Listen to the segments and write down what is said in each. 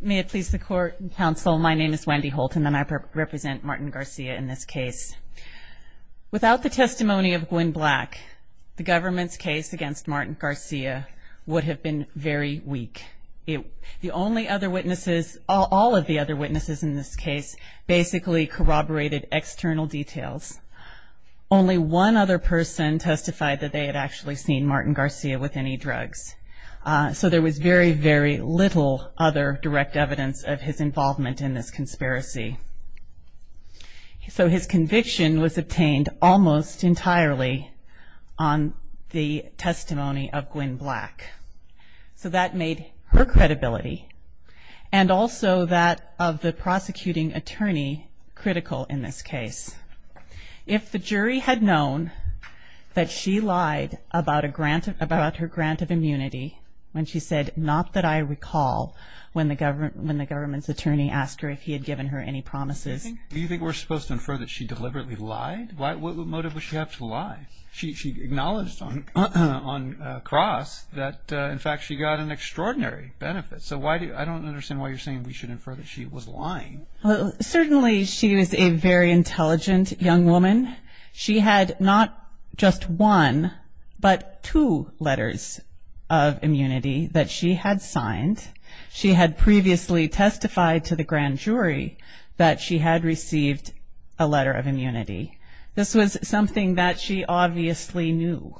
May it please the court and counsel, my name is Wendy Holt and I represent Martin Garcia in this case. Without the testimony of Gwen Black, the government's case against Martin Garcia would have been very weak. The only other witnesses, all of the other witnesses in this case, basically corroborated external details. Only one other person testified that they had actually seen Martin Garcia with any drugs. So there was very, very little other direct evidence of his involvement in this conspiracy. So his conviction was obtained almost entirely on the testimony of Gwen Black. So that made her credibility and also that of the prosecuting attorney critical in this case. If the jury had known that she lied about her grant of immunity when she said, not that I recall, when the government's attorney asked her if he had given her any promises. Do you think we're supposed to infer that she deliberately lied? What motive would she have to lie? She acknowledged on cross that in fact she got an extraordinary benefit. So I don't understand why you're saying we should infer that she was lying. Well, certainly she was a very intelligent young woman. She had not just one, but two letters of immunity that she had signed. She had previously testified to the grand jury that she had received a letter of immunity. This was something that she obviously knew.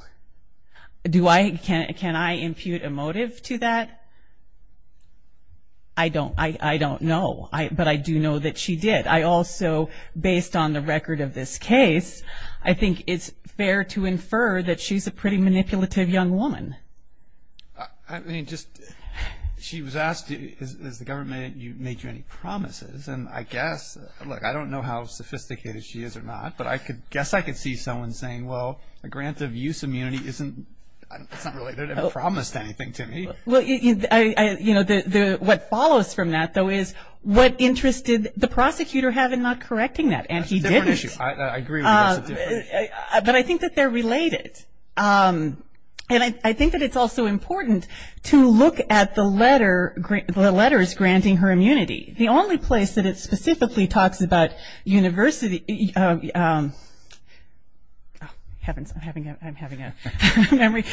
Do I, can I impute a motive to that? I don't, I don't know. But I do know that she did. I also, based on the record of this case, I think it's fair to infer that she's a pretty manipulative young woman. I mean, just, she was asked, has the government made you any promises? And I guess, look, I don't know how sophisticated she is or not, but I guess I could see someone saying, well, a grant of use immunity isn't, it's not really, they haven't promised anything to me. Well, you know, what follows from that, though, is what interest did the prosecutor have in not correcting that? That's a different issue. I agree with you. That's a different issue. But I think that they're related. And I think that it's also important to look at the letter, the letters granting her immunity. The only place that it specifically talks about university, oh, heavens, I'm having a memory,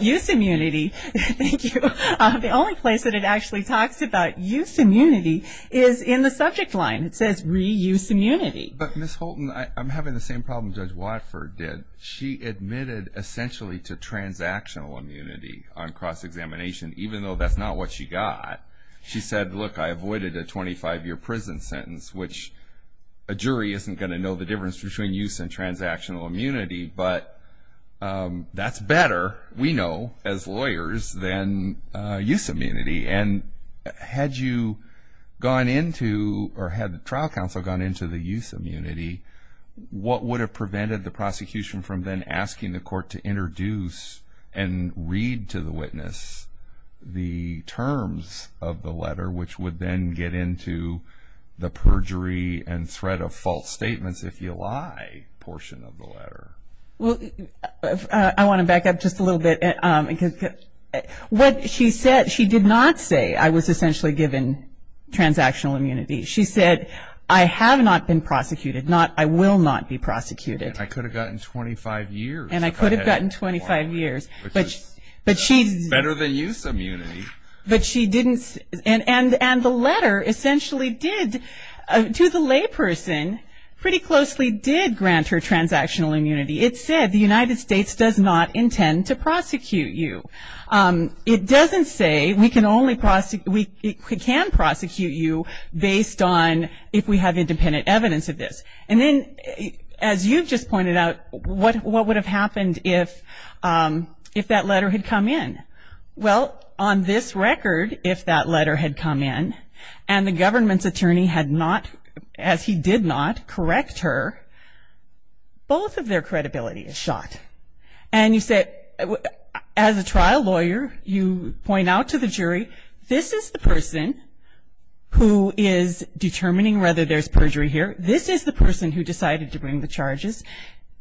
use immunity. Thank you. The only place that it actually talks about use immunity is in the subject line. It says reuse immunity. But, Ms. Holton, I'm having the same problem Judge Watford did. She admitted essentially to transactional immunity on cross-examination, even though that's not what she got. She said, look, I avoided a 25-year prison sentence, which a jury isn't going to know the difference between use and transactional immunity. But that's better, we know, as lawyers, than use immunity. And had you gone into, or had the trial counsel gone into the use immunity, what would have prevented the prosecution from then asking the court to introduce and read to the witness the terms of the letter, which would then get into the perjury and threat of false statements, if you lie, portion of the letter? Well, I want to back up just a little bit. What she said, she did not say, I was essentially given transactional immunity. She said, I have not been prosecuted, not I will not be prosecuted. And I could have gotten 25 years. And I could have gotten 25 years. Which is better than use immunity. But she didn't, and the letter essentially did, to the layperson, pretty closely did grant her transactional immunity. It said, the United States does not intend to prosecute you. It doesn't say, we can prosecute you based on if we have independent evidence of this. And then, as you've just pointed out, what would have happened if that letter had come in? Well, on this record, if that letter had come in, and the government's attorney had not, as he did not, correct her, both of their credibility is shot. And you said, as a trial lawyer, you point out to the jury, this is the person who is determining whether there's perjury here. This is the person who decided to bring the charges.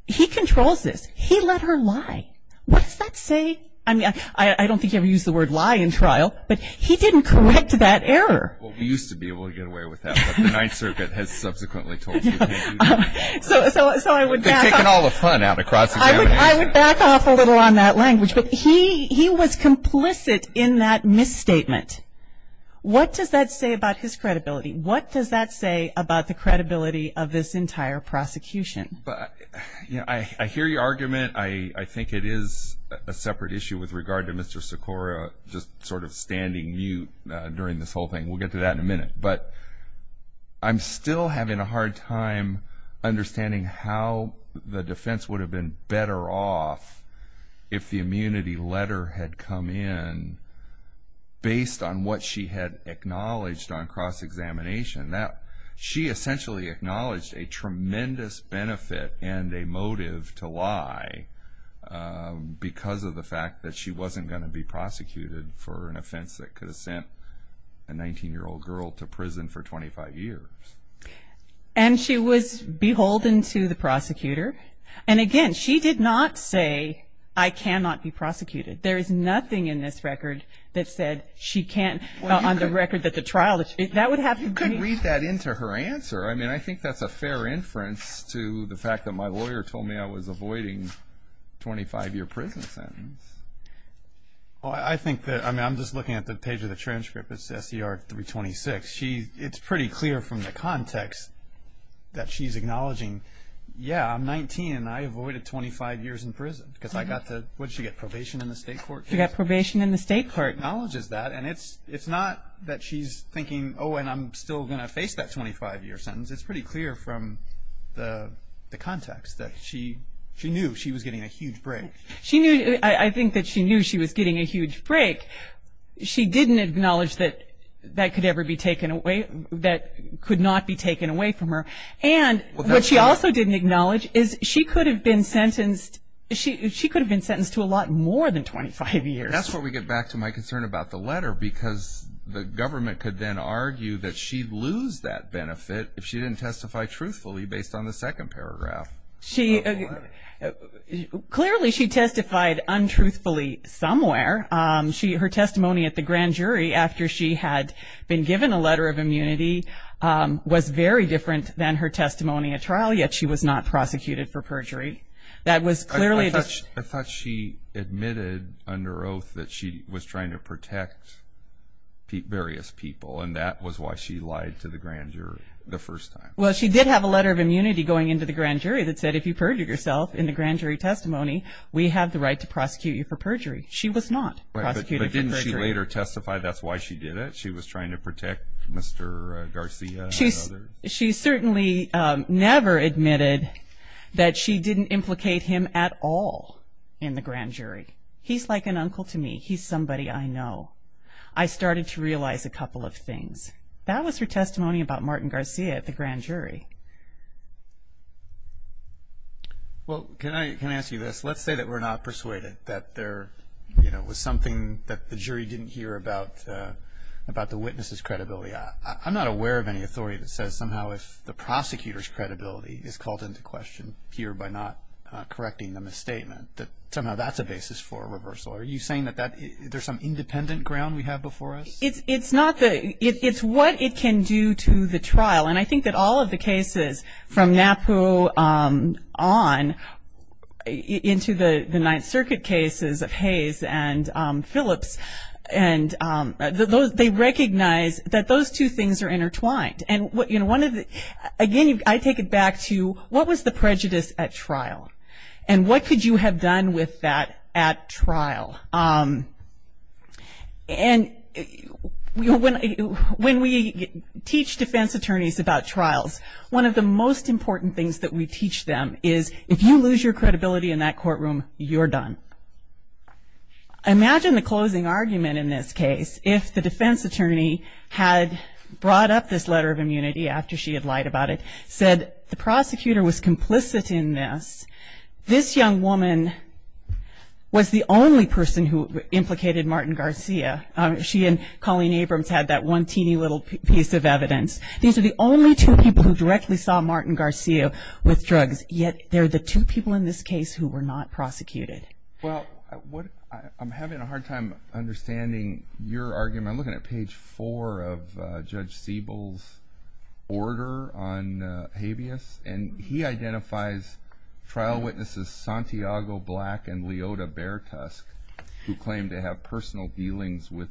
He controls this. He let her lie. What does that say? I mean, I don't think you ever used the word lie in trial. But he didn't correct that error. Well, we used to be able to get away with that. But the Ninth Circuit has subsequently told us we can't do that. They're taking all the fun out of cross-examination. I would back off a little on that language. But he was complicit in that misstatement. What does that say about his credibility? What does that say about the credibility of this entire prosecution? I hear your argument. I think it is a separate issue with regard to Mr. Sikora just sort of standing mute during this whole thing. We'll get to that in a minute. But I'm still having a hard time understanding how the defense would have been better off if the immunity letter had come in based on what she had acknowledged on cross-examination. She essentially acknowledged a tremendous benefit and a motive to lie because of the fact that she wasn't going to be prosecuted for an offense that could have sent a 19-year-old girl to prison for 25 years. And she was beholden to the prosecutor. And again, she did not say, I cannot be prosecuted. There is nothing in this record that said she can't, on the record that the trial, You could read that into her answer. I think that's a fair inference to the fact that my lawyer told me I was avoiding a 25-year prison sentence. I'm just looking at the page of the transcript. It's SCR 326. It's pretty clear from the context that she's acknowledging, yeah, I'm 19 and I avoided 25 years in prison because I got to, what did she get, probation in the state court? She got probation in the state court. She acknowledges that. And it's not that she's thinking, oh, and I'm still going to face that 25-year sentence. It's pretty clear from the context that she knew she was getting a huge break. I think that she knew she was getting a huge break. She didn't acknowledge that that could not be taken away from her. And what she also didn't acknowledge is she could have been sentenced to a lot more than 25 years. That's where we get back to my concern about the letter, because the government could then argue that she'd lose that benefit if she didn't testify truthfully based on the second paragraph of the letter. Clearly she testified untruthfully somewhere. Her testimony at the grand jury after she had been given a letter of immunity was very different than her testimony at trial, yet she was not prosecuted for perjury. I thought she admitted under oath that she was trying to protect various people, and that was why she lied to the grand jury the first time. Well, she did have a letter of immunity going into the grand jury that said, if you perjure yourself in the grand jury testimony, we have the right to prosecute you for perjury. She was not prosecuted for perjury. But didn't she later testify that's why she did it? She was trying to protect Mr. Garcia? She certainly never admitted that she didn't implicate him at all in the grand jury. He's like an uncle to me. He's somebody I know. I started to realize a couple of things. That was her testimony about Martin Garcia at the grand jury. Well, can I ask you this? Let's say that we're not persuaded that there was something that the jury didn't hear about the witness's credibility. I'm not aware of any authority that says somehow if the prosecutor's credibility is called into question here by not correcting the misstatement, that somehow that's a basis for a reversal. Are you saying that there's some independent ground we have before us? It's what it can do to the trial. And I think that all of the cases from NAPU on into the Ninth Circuit cases of Hayes and Phillips, they recognize that those two things are intertwined. And again, I take it back to what was the prejudice at trial? And what could you have done with that at trial? And when we teach defense attorneys about trials, one of the most important things that we teach them is if you lose your credibility in that courtroom, you're done. Imagine the closing argument in this case. If the defense attorney had brought up this letter of immunity after she had lied about it, said the prosecutor was complicit in this, this young woman was the only person who implicated Martin Garcia. She and Colleen Abrams had that one teeny little piece of evidence. These are the only two people who directly saw Martin Garcia with drugs, yet they're the two people in this case who were not prosecuted. Well, I'm having a hard time understanding your argument. I'm looking at page four of Judge Siebel's order on habeas, and he identifies trial witnesses Santiago Black and Leota Bertusk, who claim to have personal dealings with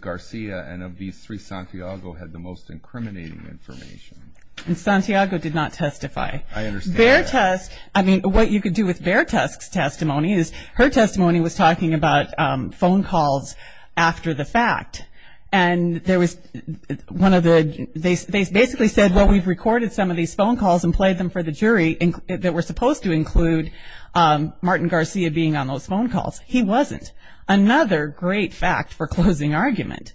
Garcia, and of these three, Santiago had the most incriminating information. And Santiago did not testify. I understand. Bertusk, I mean, what you could do with Bertusk's testimony is, her testimony was talking about phone calls after the fact. And there was one of the, they basically said, well, we've recorded some of these phone calls and played them for the jury that were supposed to include Martin Garcia being on those phone calls. He wasn't. Another great fact for closing argument.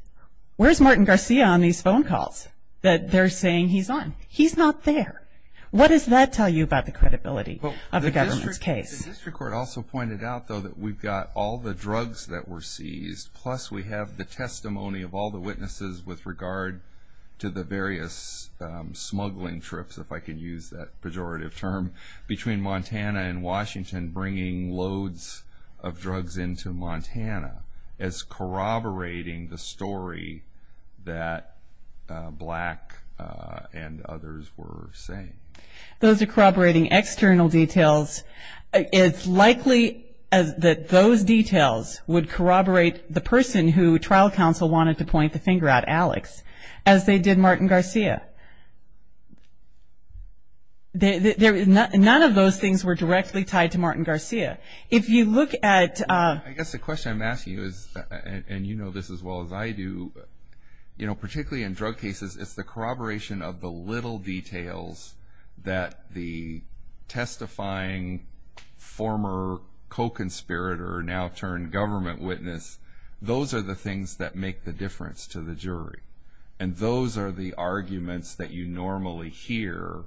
Where's Martin Garcia on these phone calls that they're saying he's on? He's not there. What does that tell you about the credibility of the government's case? The district court also pointed out, though, that we've got all the drugs that were seized, plus we have the testimony of all the witnesses with regard to the various smuggling trips, if I can use that pejorative term, between Montana and Washington, and bringing loads of drugs into Montana. It's corroborating the story that Black and others were saying. Those are corroborating external details. It's likely that those details would corroborate the person who trial counsel wanted to point the finger at, Alex, as they did Martin Garcia. None of those things were directly tied to Martin Garcia. If you look at – I guess the question I'm asking you is, and you know this as well as I do, you know, particularly in drug cases, it's the corroboration of the little details that the testifying former co-conspirator, now turned government witness, and those are the arguments that you normally hear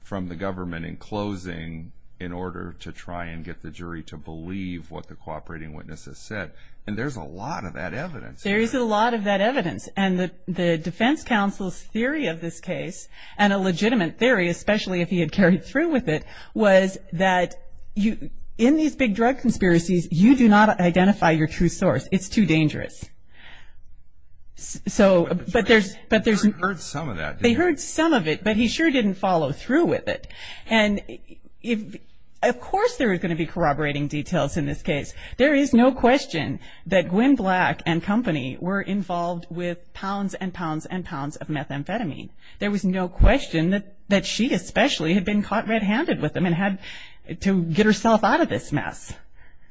from the government in closing in order to try and get the jury to believe what the cooperating witnesses said. And there's a lot of that evidence. There is a lot of that evidence, and the defense counsel's theory of this case, and a legitimate theory, especially if he had carried through with it, was that in these big drug conspiracies, you do not identify your true source. It's too dangerous. So – But the jury heard some of that, didn't they? They heard some of it, but he sure didn't follow through with it. And of course there are going to be corroborating details in this case. There is no question that Gwen Black and company were involved with pounds and pounds and pounds of methamphetamine. There was no question that she especially had been caught red-handed with them and had to get herself out of this mess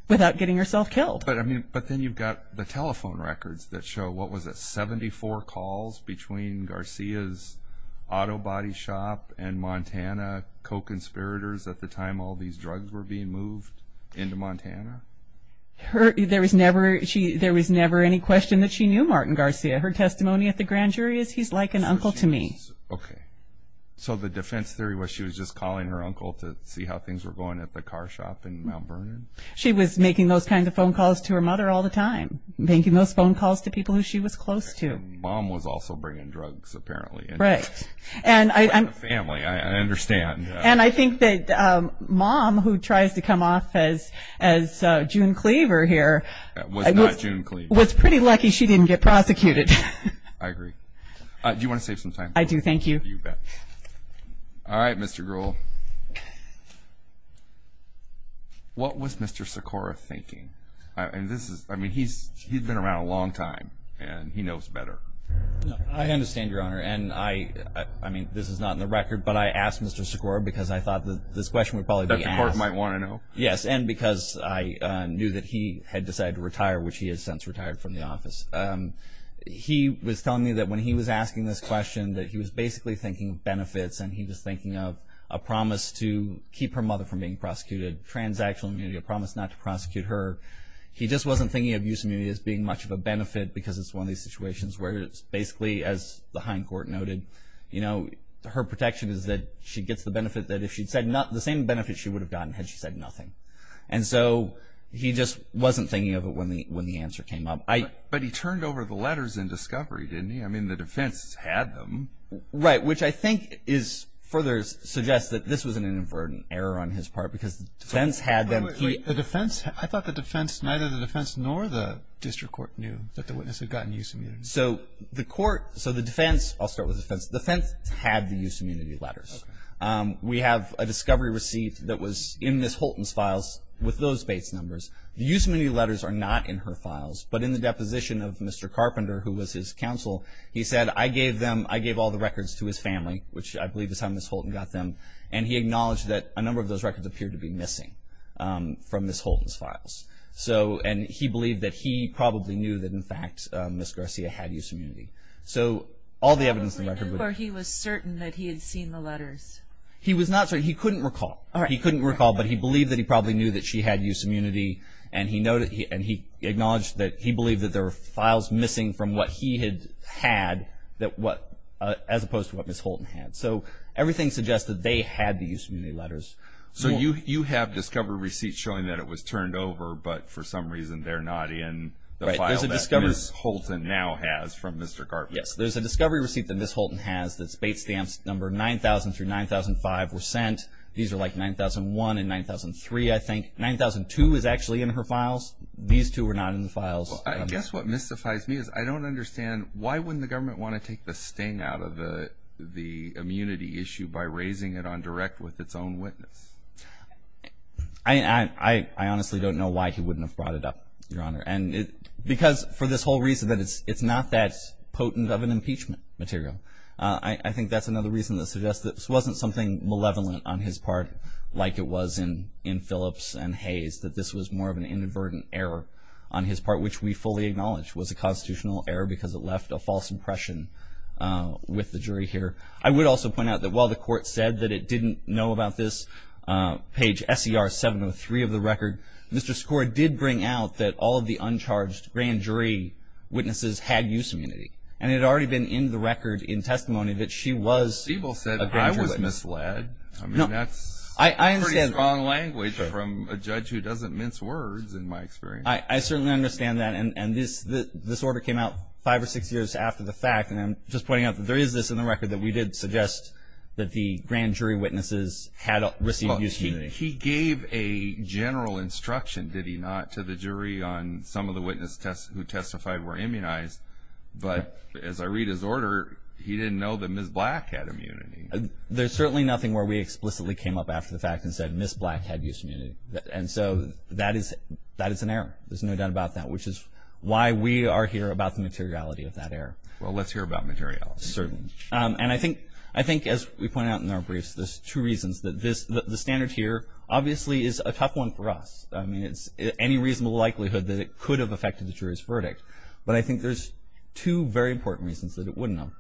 without getting herself killed. But then you've got the telephone records that show, what was it, 74 calls between Garcia's auto body shop and Montana co-conspirators at the time all these drugs were being moved into Montana? There was never any question that she knew Martin Garcia. Her testimony at the grand jury is, he's like an uncle to me. Okay. So the defense theory was she was just calling her uncle to see how things were going at the car shop in Mount Vernon? She was making those kinds of phone calls to her mother all the time, making those phone calls to people who she was close to. Mom was also bringing drugs apparently. Right. And I'm... Like a family, I understand. And I think that Mom, who tries to come off as June Cleaver here... Was not June Cleaver. Was pretty lucky she didn't get prosecuted. I agree. Do you want to save some time? I do, thank you. You bet. All right, Mr. Gruhl. What was Mr. Sikora thinking? I mean, he's been around a long time, and he knows better. I understand, Your Honor, and I mean, this is not in the record, but I asked Mr. Sikora because I thought this question would probably be asked. Dr. Sikora might want to know. Yes, and because I knew that he had decided to retire, which he has since retired from the office. He was telling me that when he was asking this question, that he was basically thinking of benefits, and he was thinking of a promise to keep her mother from being prosecuted, transactional immunity, a promise not to prosecute her. He just wasn't thinking of abuse immunity as being much of a benefit because it's one of these situations where it's basically, as the Hine Court noted, her protection is that she gets the benefit that if she'd said nothing, the same benefit she would have gotten had she said nothing. And so he just wasn't thinking of it when the answer came up. But he turned over the letters in discovery, didn't he? I mean, the defense had them. Right, which I think further suggests that this was an inadvertent error on his part because the defense had them. Wait, wait, wait. The defense, I thought the defense, neither the defense nor the district court knew that the witness had gotten use immunity. So the court, so the defense, I'll start with the defense. The defense had the use immunity letters. Okay. We have a discovery receipt that was in Ms. Holton's files with those base numbers. The use immunity letters are not in her files, but in the deposition of Mr. Carpenter, who was his counsel, he said, I gave them, I gave all the records to his family, which I believe is how Ms. Holton got them, and he acknowledged that a number of those records appeared to be missing from Ms. Holton's files. So, and he believed that he probably knew that, in fact, Ms. Garcia had use immunity. So all the evidence in the record. He was certain that he had seen the letters. He was not certain. He couldn't recall. He couldn't recall, but he believed that he probably knew that she had use immunity, and he acknowledged that he believed that there were files missing from what he had had, as opposed to what Ms. Holton had. So everything suggested they had the use immunity letters. So you have discovery receipts showing that it was turned over, but for some reason they're not in the file that Ms. Holton now has from Mr. Carpenter. Yes, there's a discovery receipt that Ms. Holton has that's base stamps number 9,000 through 9,005 were sent. These are like 9,001 and 9,003, I think. 9,002 is actually in her files. These two are not in the files. I guess what mystifies me is I don't understand, why wouldn't the government want to take the sting out of the immunity issue by raising it on direct with its own witness? I honestly don't know why he wouldn't have brought it up, Your Honor, because for this whole reason that it's not that potent of an impeachment material. I think that's another reason that suggests that this wasn't something malevolent on his part, like it was in Phillips and Hayes, that this was more of an inadvertent error on his part, which we fully acknowledge was a constitutional error because it left a false impression with the jury here. I would also point out that while the court said that it didn't know about this, page SER 703 of the record, Mr. Skor did bring out that all of the uncharged grand jury witnesses had use immunity, and it had already been in the record in testimony that she was a grand jury witness. I mean, that's pretty strong language from a judge who doesn't mince words, in my experience. I certainly understand that, and this order came out five or six years after the fact, and I'm just pointing out that there is this in the record that we did suggest that the grand jury witnesses had received use immunity. He gave a general instruction, did he not, to the jury on some of the witnesses who testified were immunized, but as I read his order, he didn't know that Ms. Black had immunity. There's certainly nothing where we explicitly came up after the fact and said Ms. Black had use immunity, and so that is an error. There's no doubt about that, which is why we are here about the materiality of that error. Well, let's hear about materiality. Certainly. And I think as we pointed out in our briefs, there's two reasons. The standard here obviously is a tough one for us. I mean, it's any reasonable likelihood that it could have affected the jury's verdict, but I think there's two very important reasons that it wouldn't have.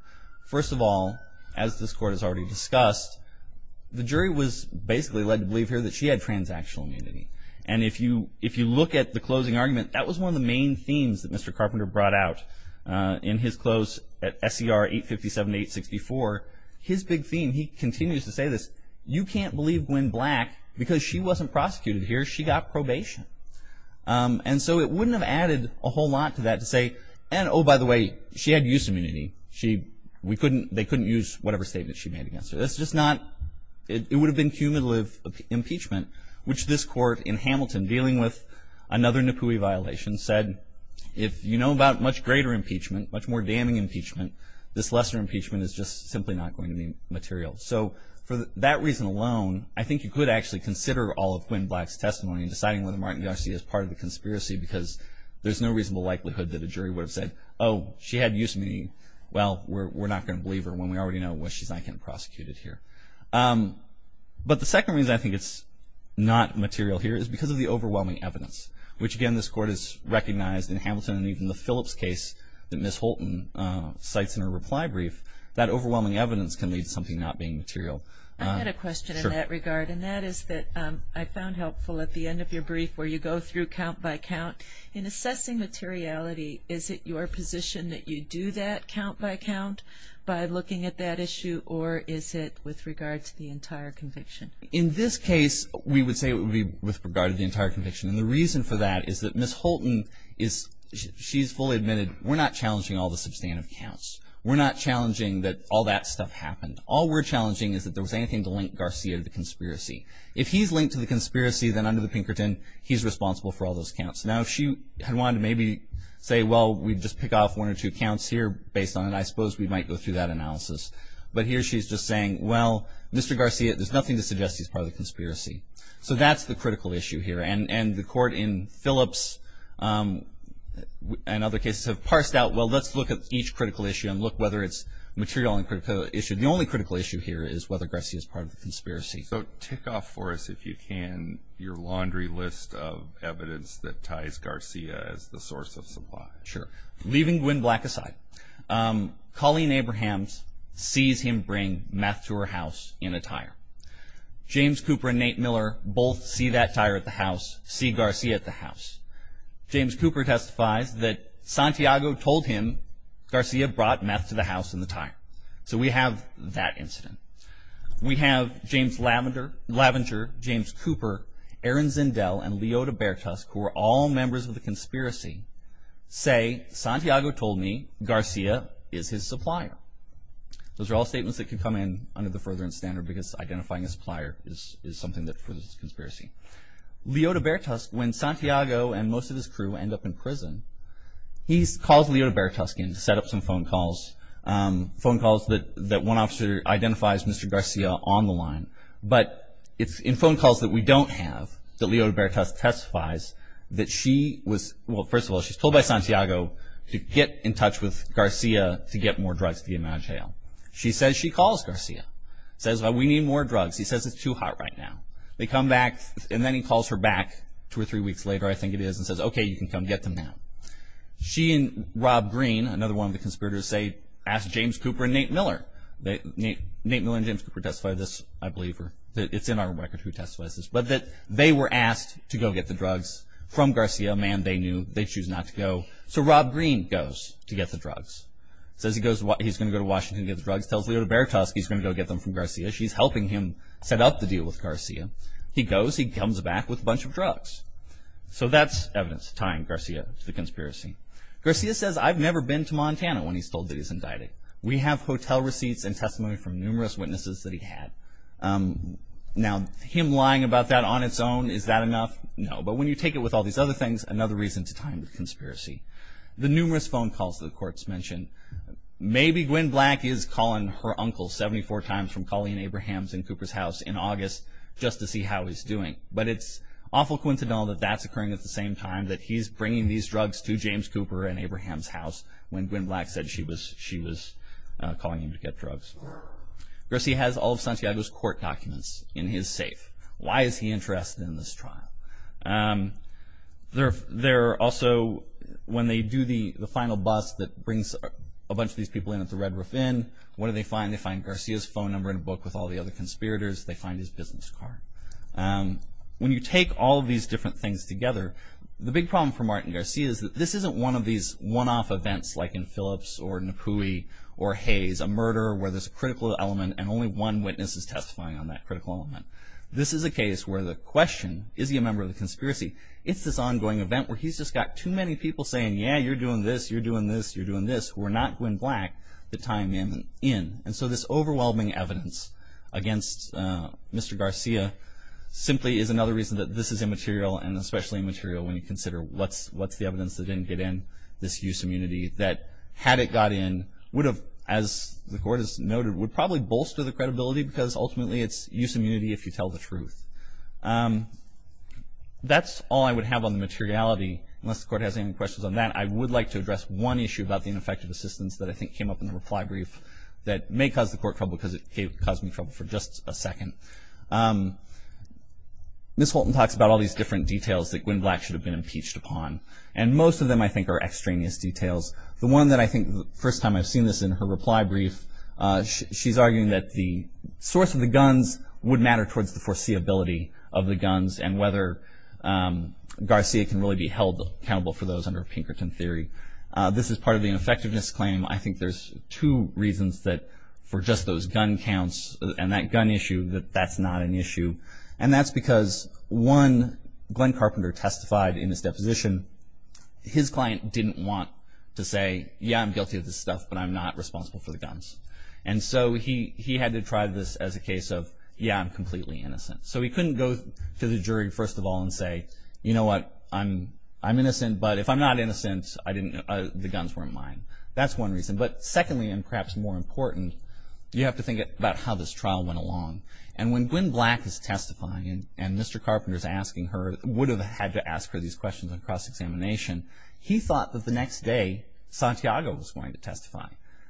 First of all, as this Court has already discussed, the jury was basically led to believe here that she had transactional immunity, and if you look at the closing argument, that was one of the main themes that Mr. Carpenter brought out in his close at SCR 857-864. His big theme, he continues to say this, you can't believe Gwen Black because she wasn't prosecuted here. She got probation. And so it wouldn't have added a whole lot to that to say, and oh, by the way, she had use immunity. She, we couldn't, they couldn't use whatever statement she made against her. That's just not, it would have been cumulative impeachment, which this Court in Hamilton dealing with another Nippoui violation said, if you know about much greater impeachment, much more damning impeachment, this lesser impeachment is just simply not going to be material. So for that reason alone, I think you could actually consider all of Gwen Black's testimony in deciding whether Martin Garcia is part of the conspiracy because there's no reasonable likelihood that a jury would have said, oh, she had use immunity. Well, we're not going to believe her when we already know she's not getting prosecuted here. But the second reason I think it's not material here is because of the overwhelming evidence, which again this Court has recognized in Hamilton and even the Phillips case that Ms. Holton cites in her reply brief, that overwhelming evidence can lead to something not being material. I had a question in that regard, and that is that I found helpful at the end of your brief where you go through count by count. In assessing materiality, is it your position that you do that count by count by looking at that issue, or is it with regard to the entire conviction? In this case, we would say it would be with regard to the entire conviction. And the reason for that is that Ms. Holton, she's fully admitted, we're not challenging all the substantive counts. We're not challenging that all that stuff happened. All we're challenging is that there was anything to link Garcia to the conspiracy. If he's linked to the conspiracy, then under the Pinkerton, he's responsible for all those counts. Now, if she had wanted to maybe say, well, we'd just pick off one or two counts here based on it, I suppose we might go through that analysis. But here she's just saying, well, Mr. Garcia, there's nothing to suggest he's part of the conspiracy. So that's the critical issue here. And the Court in Phillips and other cases have parsed out, well, let's look at each critical issue and look whether it's material and critical issue. So tick off for us, if you can, your laundry list of evidence that ties Garcia as the source of supply. Sure. Leaving Gwynne Black aside, Colleen Abrahams sees him bring meth to her house in a tire. James Cooper and Nate Miller both see that tire at the house, see Garcia at the house. James Cooper testifies that Santiago told him Garcia brought meth to the house in the tire. So we have that incident. We have James Lavenger, James Cooper, Aaron Zindel, and Leota Bertusk, who are all members of the conspiracy, say Santiago told me Garcia is his supplier. Those are all statements that can come in under the furtherance standard because identifying a supplier is something that furthers this conspiracy. Leota Bertusk, when Santiago and most of his crew end up in prison, he calls Leota Bertusk in to set up some phone calls, phone calls that one officer identifies Mr. Garcia on the line. But it's in phone calls that we don't have that Leota Bertusk testifies that she was, well, first of all, she's told by Santiago to get in touch with Garcia to get more drugs to get him out of jail. She says she calls Garcia, says, well, we need more drugs. He says it's too hot right now. They come back, and then he calls her back two or three weeks later, I think it is, and says, okay, you can come get them now. She and Rob Green, another one of the conspirators, say, ask James Cooper and Nate Miller. Nate Miller and James Cooper testified this, I believe, or it's in our record who testifies this, but that they were asked to go get the drugs from Garcia, a man they knew. They choose not to go. So Rob Green goes to get the drugs, says he's going to go to Washington to get the drugs, tells Leota Bertusk he's going to go get them from Garcia. She's helping him set up the deal with Garcia. He goes. He comes back with a bunch of drugs. So that's evidence tying Garcia to the conspiracy. Garcia says, I've never been to Montana when he's told that he's indicted. We have hotel receipts and testimony from numerous witnesses that he had. Now, him lying about that on its own, is that enough? No, but when you take it with all these other things, another reason to tie him to the conspiracy. The numerous phone calls to the courts mentioned, maybe Gwen Black is calling her uncle 74 times from calling in Abraham's and Cooper's house in August just to see how he's doing. But it's awful coincidental that that's occurring at the same time, that he's bringing these drugs to James Cooper and Abraham's house when Gwen Black said she was calling him to get drugs. Garcia has all of Santiago's court documents in his safe. Why is he interested in this trial? They're also, when they do the final bust that brings a bunch of these people in at the Red Roof Inn, what do they find? They find Garcia's phone number in a book with all the other conspirators. They find his business card. When you take all of these different things together, the big problem for Martin Garcia is that this isn't one of these one-off events like in Phillips or Napoui or Hayes, a murder where there's a critical element and only one witness is testifying on that critical element. This is a case where the question, is he a member of the conspiracy? It's this ongoing event where he's just got too many people saying, yeah, you're doing this, you're doing this, you're doing this. We're not Gwen Black to tie him in. And so this overwhelming evidence against Mr. Garcia simply is another reason that this is immaterial and especially immaterial when you consider what's the evidence that didn't get in, this use immunity, that had it got in would have, as the court has noted, would probably bolster the credibility because ultimately it's use immunity if you tell the truth. That's all I would have on the materiality, unless the court has any questions on that. I would like to address one issue about the ineffective assistance that I think came up in the reply brief that may cause the court trouble because it caused me trouble for just a second. Ms. Holton talks about all these different details that Gwen Black should have been impeached upon, and most of them I think are extraneous details. The one that I think the first time I've seen this in her reply brief, she's arguing that the source of the guns would matter towards the foreseeability of the guns and whether Garcia can really be held accountable for those under Pinkerton theory. This is part of the effectiveness claim. I think there's two reasons that for just those gun counts and that gun issue that that's not an issue. And that's because, one, Glenn Carpenter testified in his deposition, his client didn't want to say, yeah, I'm guilty of this stuff, but I'm not responsible for the guns. And so he had to try this as a case of, yeah, I'm completely innocent. So he couldn't go to the jury, first of all, and say, you know what, I'm innocent, but if I'm not innocent, the guns weren't mine. That's one reason. But secondly, and perhaps more important, you have to think about how this trial went along. And when Gwen Black is testifying and Mr. Carpenter is asking her, would have had to ask her these questions on cross-examination, he thought that the next day Santiago was going to testify.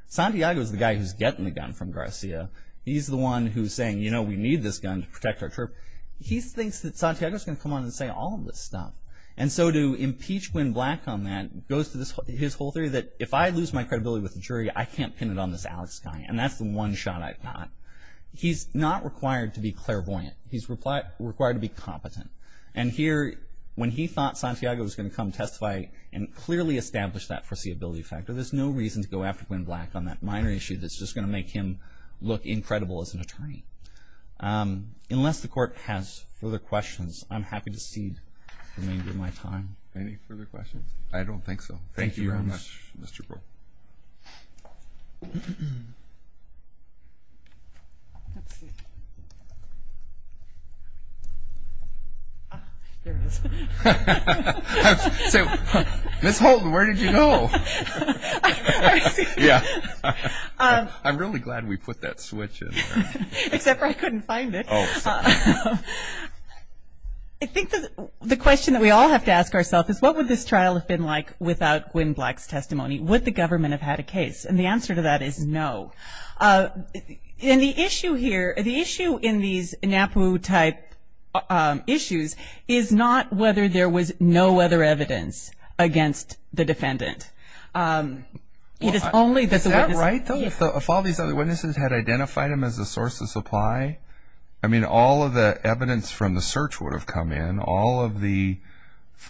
Santiago is the guy who's getting the gun from Garcia. He's the one who's saying, you know, we need this gun to protect our troop. He thinks that Santiago's going to come on and say all of this stuff. And so to impeach Gwen Black on that goes to his whole theory that if I lose my credibility with the jury, I can't pin it on this Alex guy, and that's the one shot I've got. He's not required to be clairvoyant. He's required to be competent. And here, when he thought Santiago was going to come testify and clearly establish that foreseeability factor, there's no reason to go after Gwen Black on that minor issue that's just going to make him look incredible as an attorney. Unless the court has further questions, I'm happy to cede the remainder of my time. Any further questions? I don't think so. Thank you very much, Mr. Crow. Ah, there it is. I was going to say, Ms. Holton, where did you go? Yeah. I'm really glad we put that switch in there. Except I couldn't find it. I think the question that we all have to ask ourselves is, what would this trial have been like without Gwen Black's testimony? Would the government have had a case? And the answer to that is no. And the issue here, the issue in these NAPU type issues, is not whether there was no other evidence against the defendant. Is that right, though, if all these other witnesses had identified him as a source of supply? I mean, all of the evidence from the search would have come in, all of the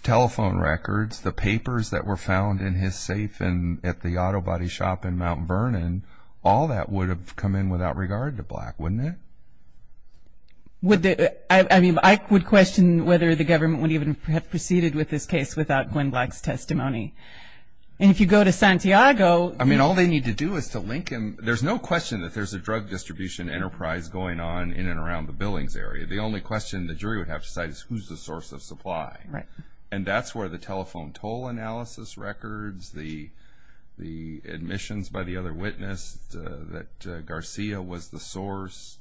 telephone records, the papers that were found in his safe at the auto body shop in Mount Vernon, all that would have come in without regard to Black, wouldn't it? I mean, I would question whether the government would even have proceeded with this case without Gwen Black's testimony. And if you go to Santiago. I mean, all they need to do is to link him. There's no question that there's a drug distribution enterprise going on in and around the Billings area. The only question the jury would have to decide is who's the source of supply. Right. And that's where the telephone toll analysis records, the admissions by the other witness, that Garcia was the source.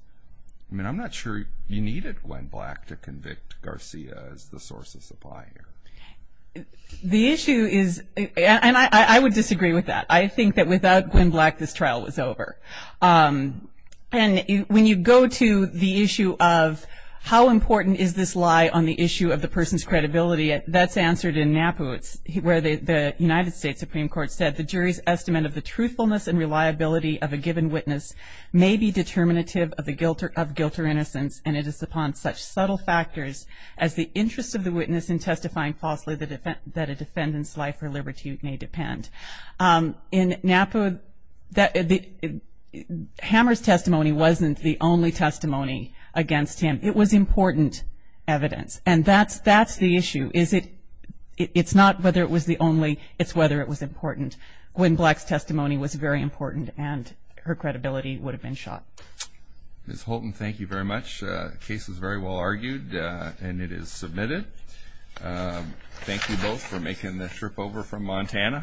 I mean, I'm not sure you needed Gwen Black to convict Garcia as the source of supply here. The issue is, and I would disagree with that. I think that without Gwen Black, this trial was over. And when you go to the issue of how important is this lie on the issue of the person's credibility, that's answered in NAPU, where the United States Supreme Court said, the jury's estimate of the truthfulness and reliability of a given witness may be determinative of guilt or innocence, and it is upon such subtle factors as the interest of the witness in testifying falsely that a defendant's life or liberty may depend. In NAPU, Hammer's testimony wasn't the only testimony against him. It was important evidence. And that's the issue. It's not whether it was the only, it's whether it was important. Gwen Black's testimony was very important, and her credibility would have been shot. Ms. Holton, thank you very much. The case was very well argued, and it is submitted. Thank you both for making the trip over from Montana.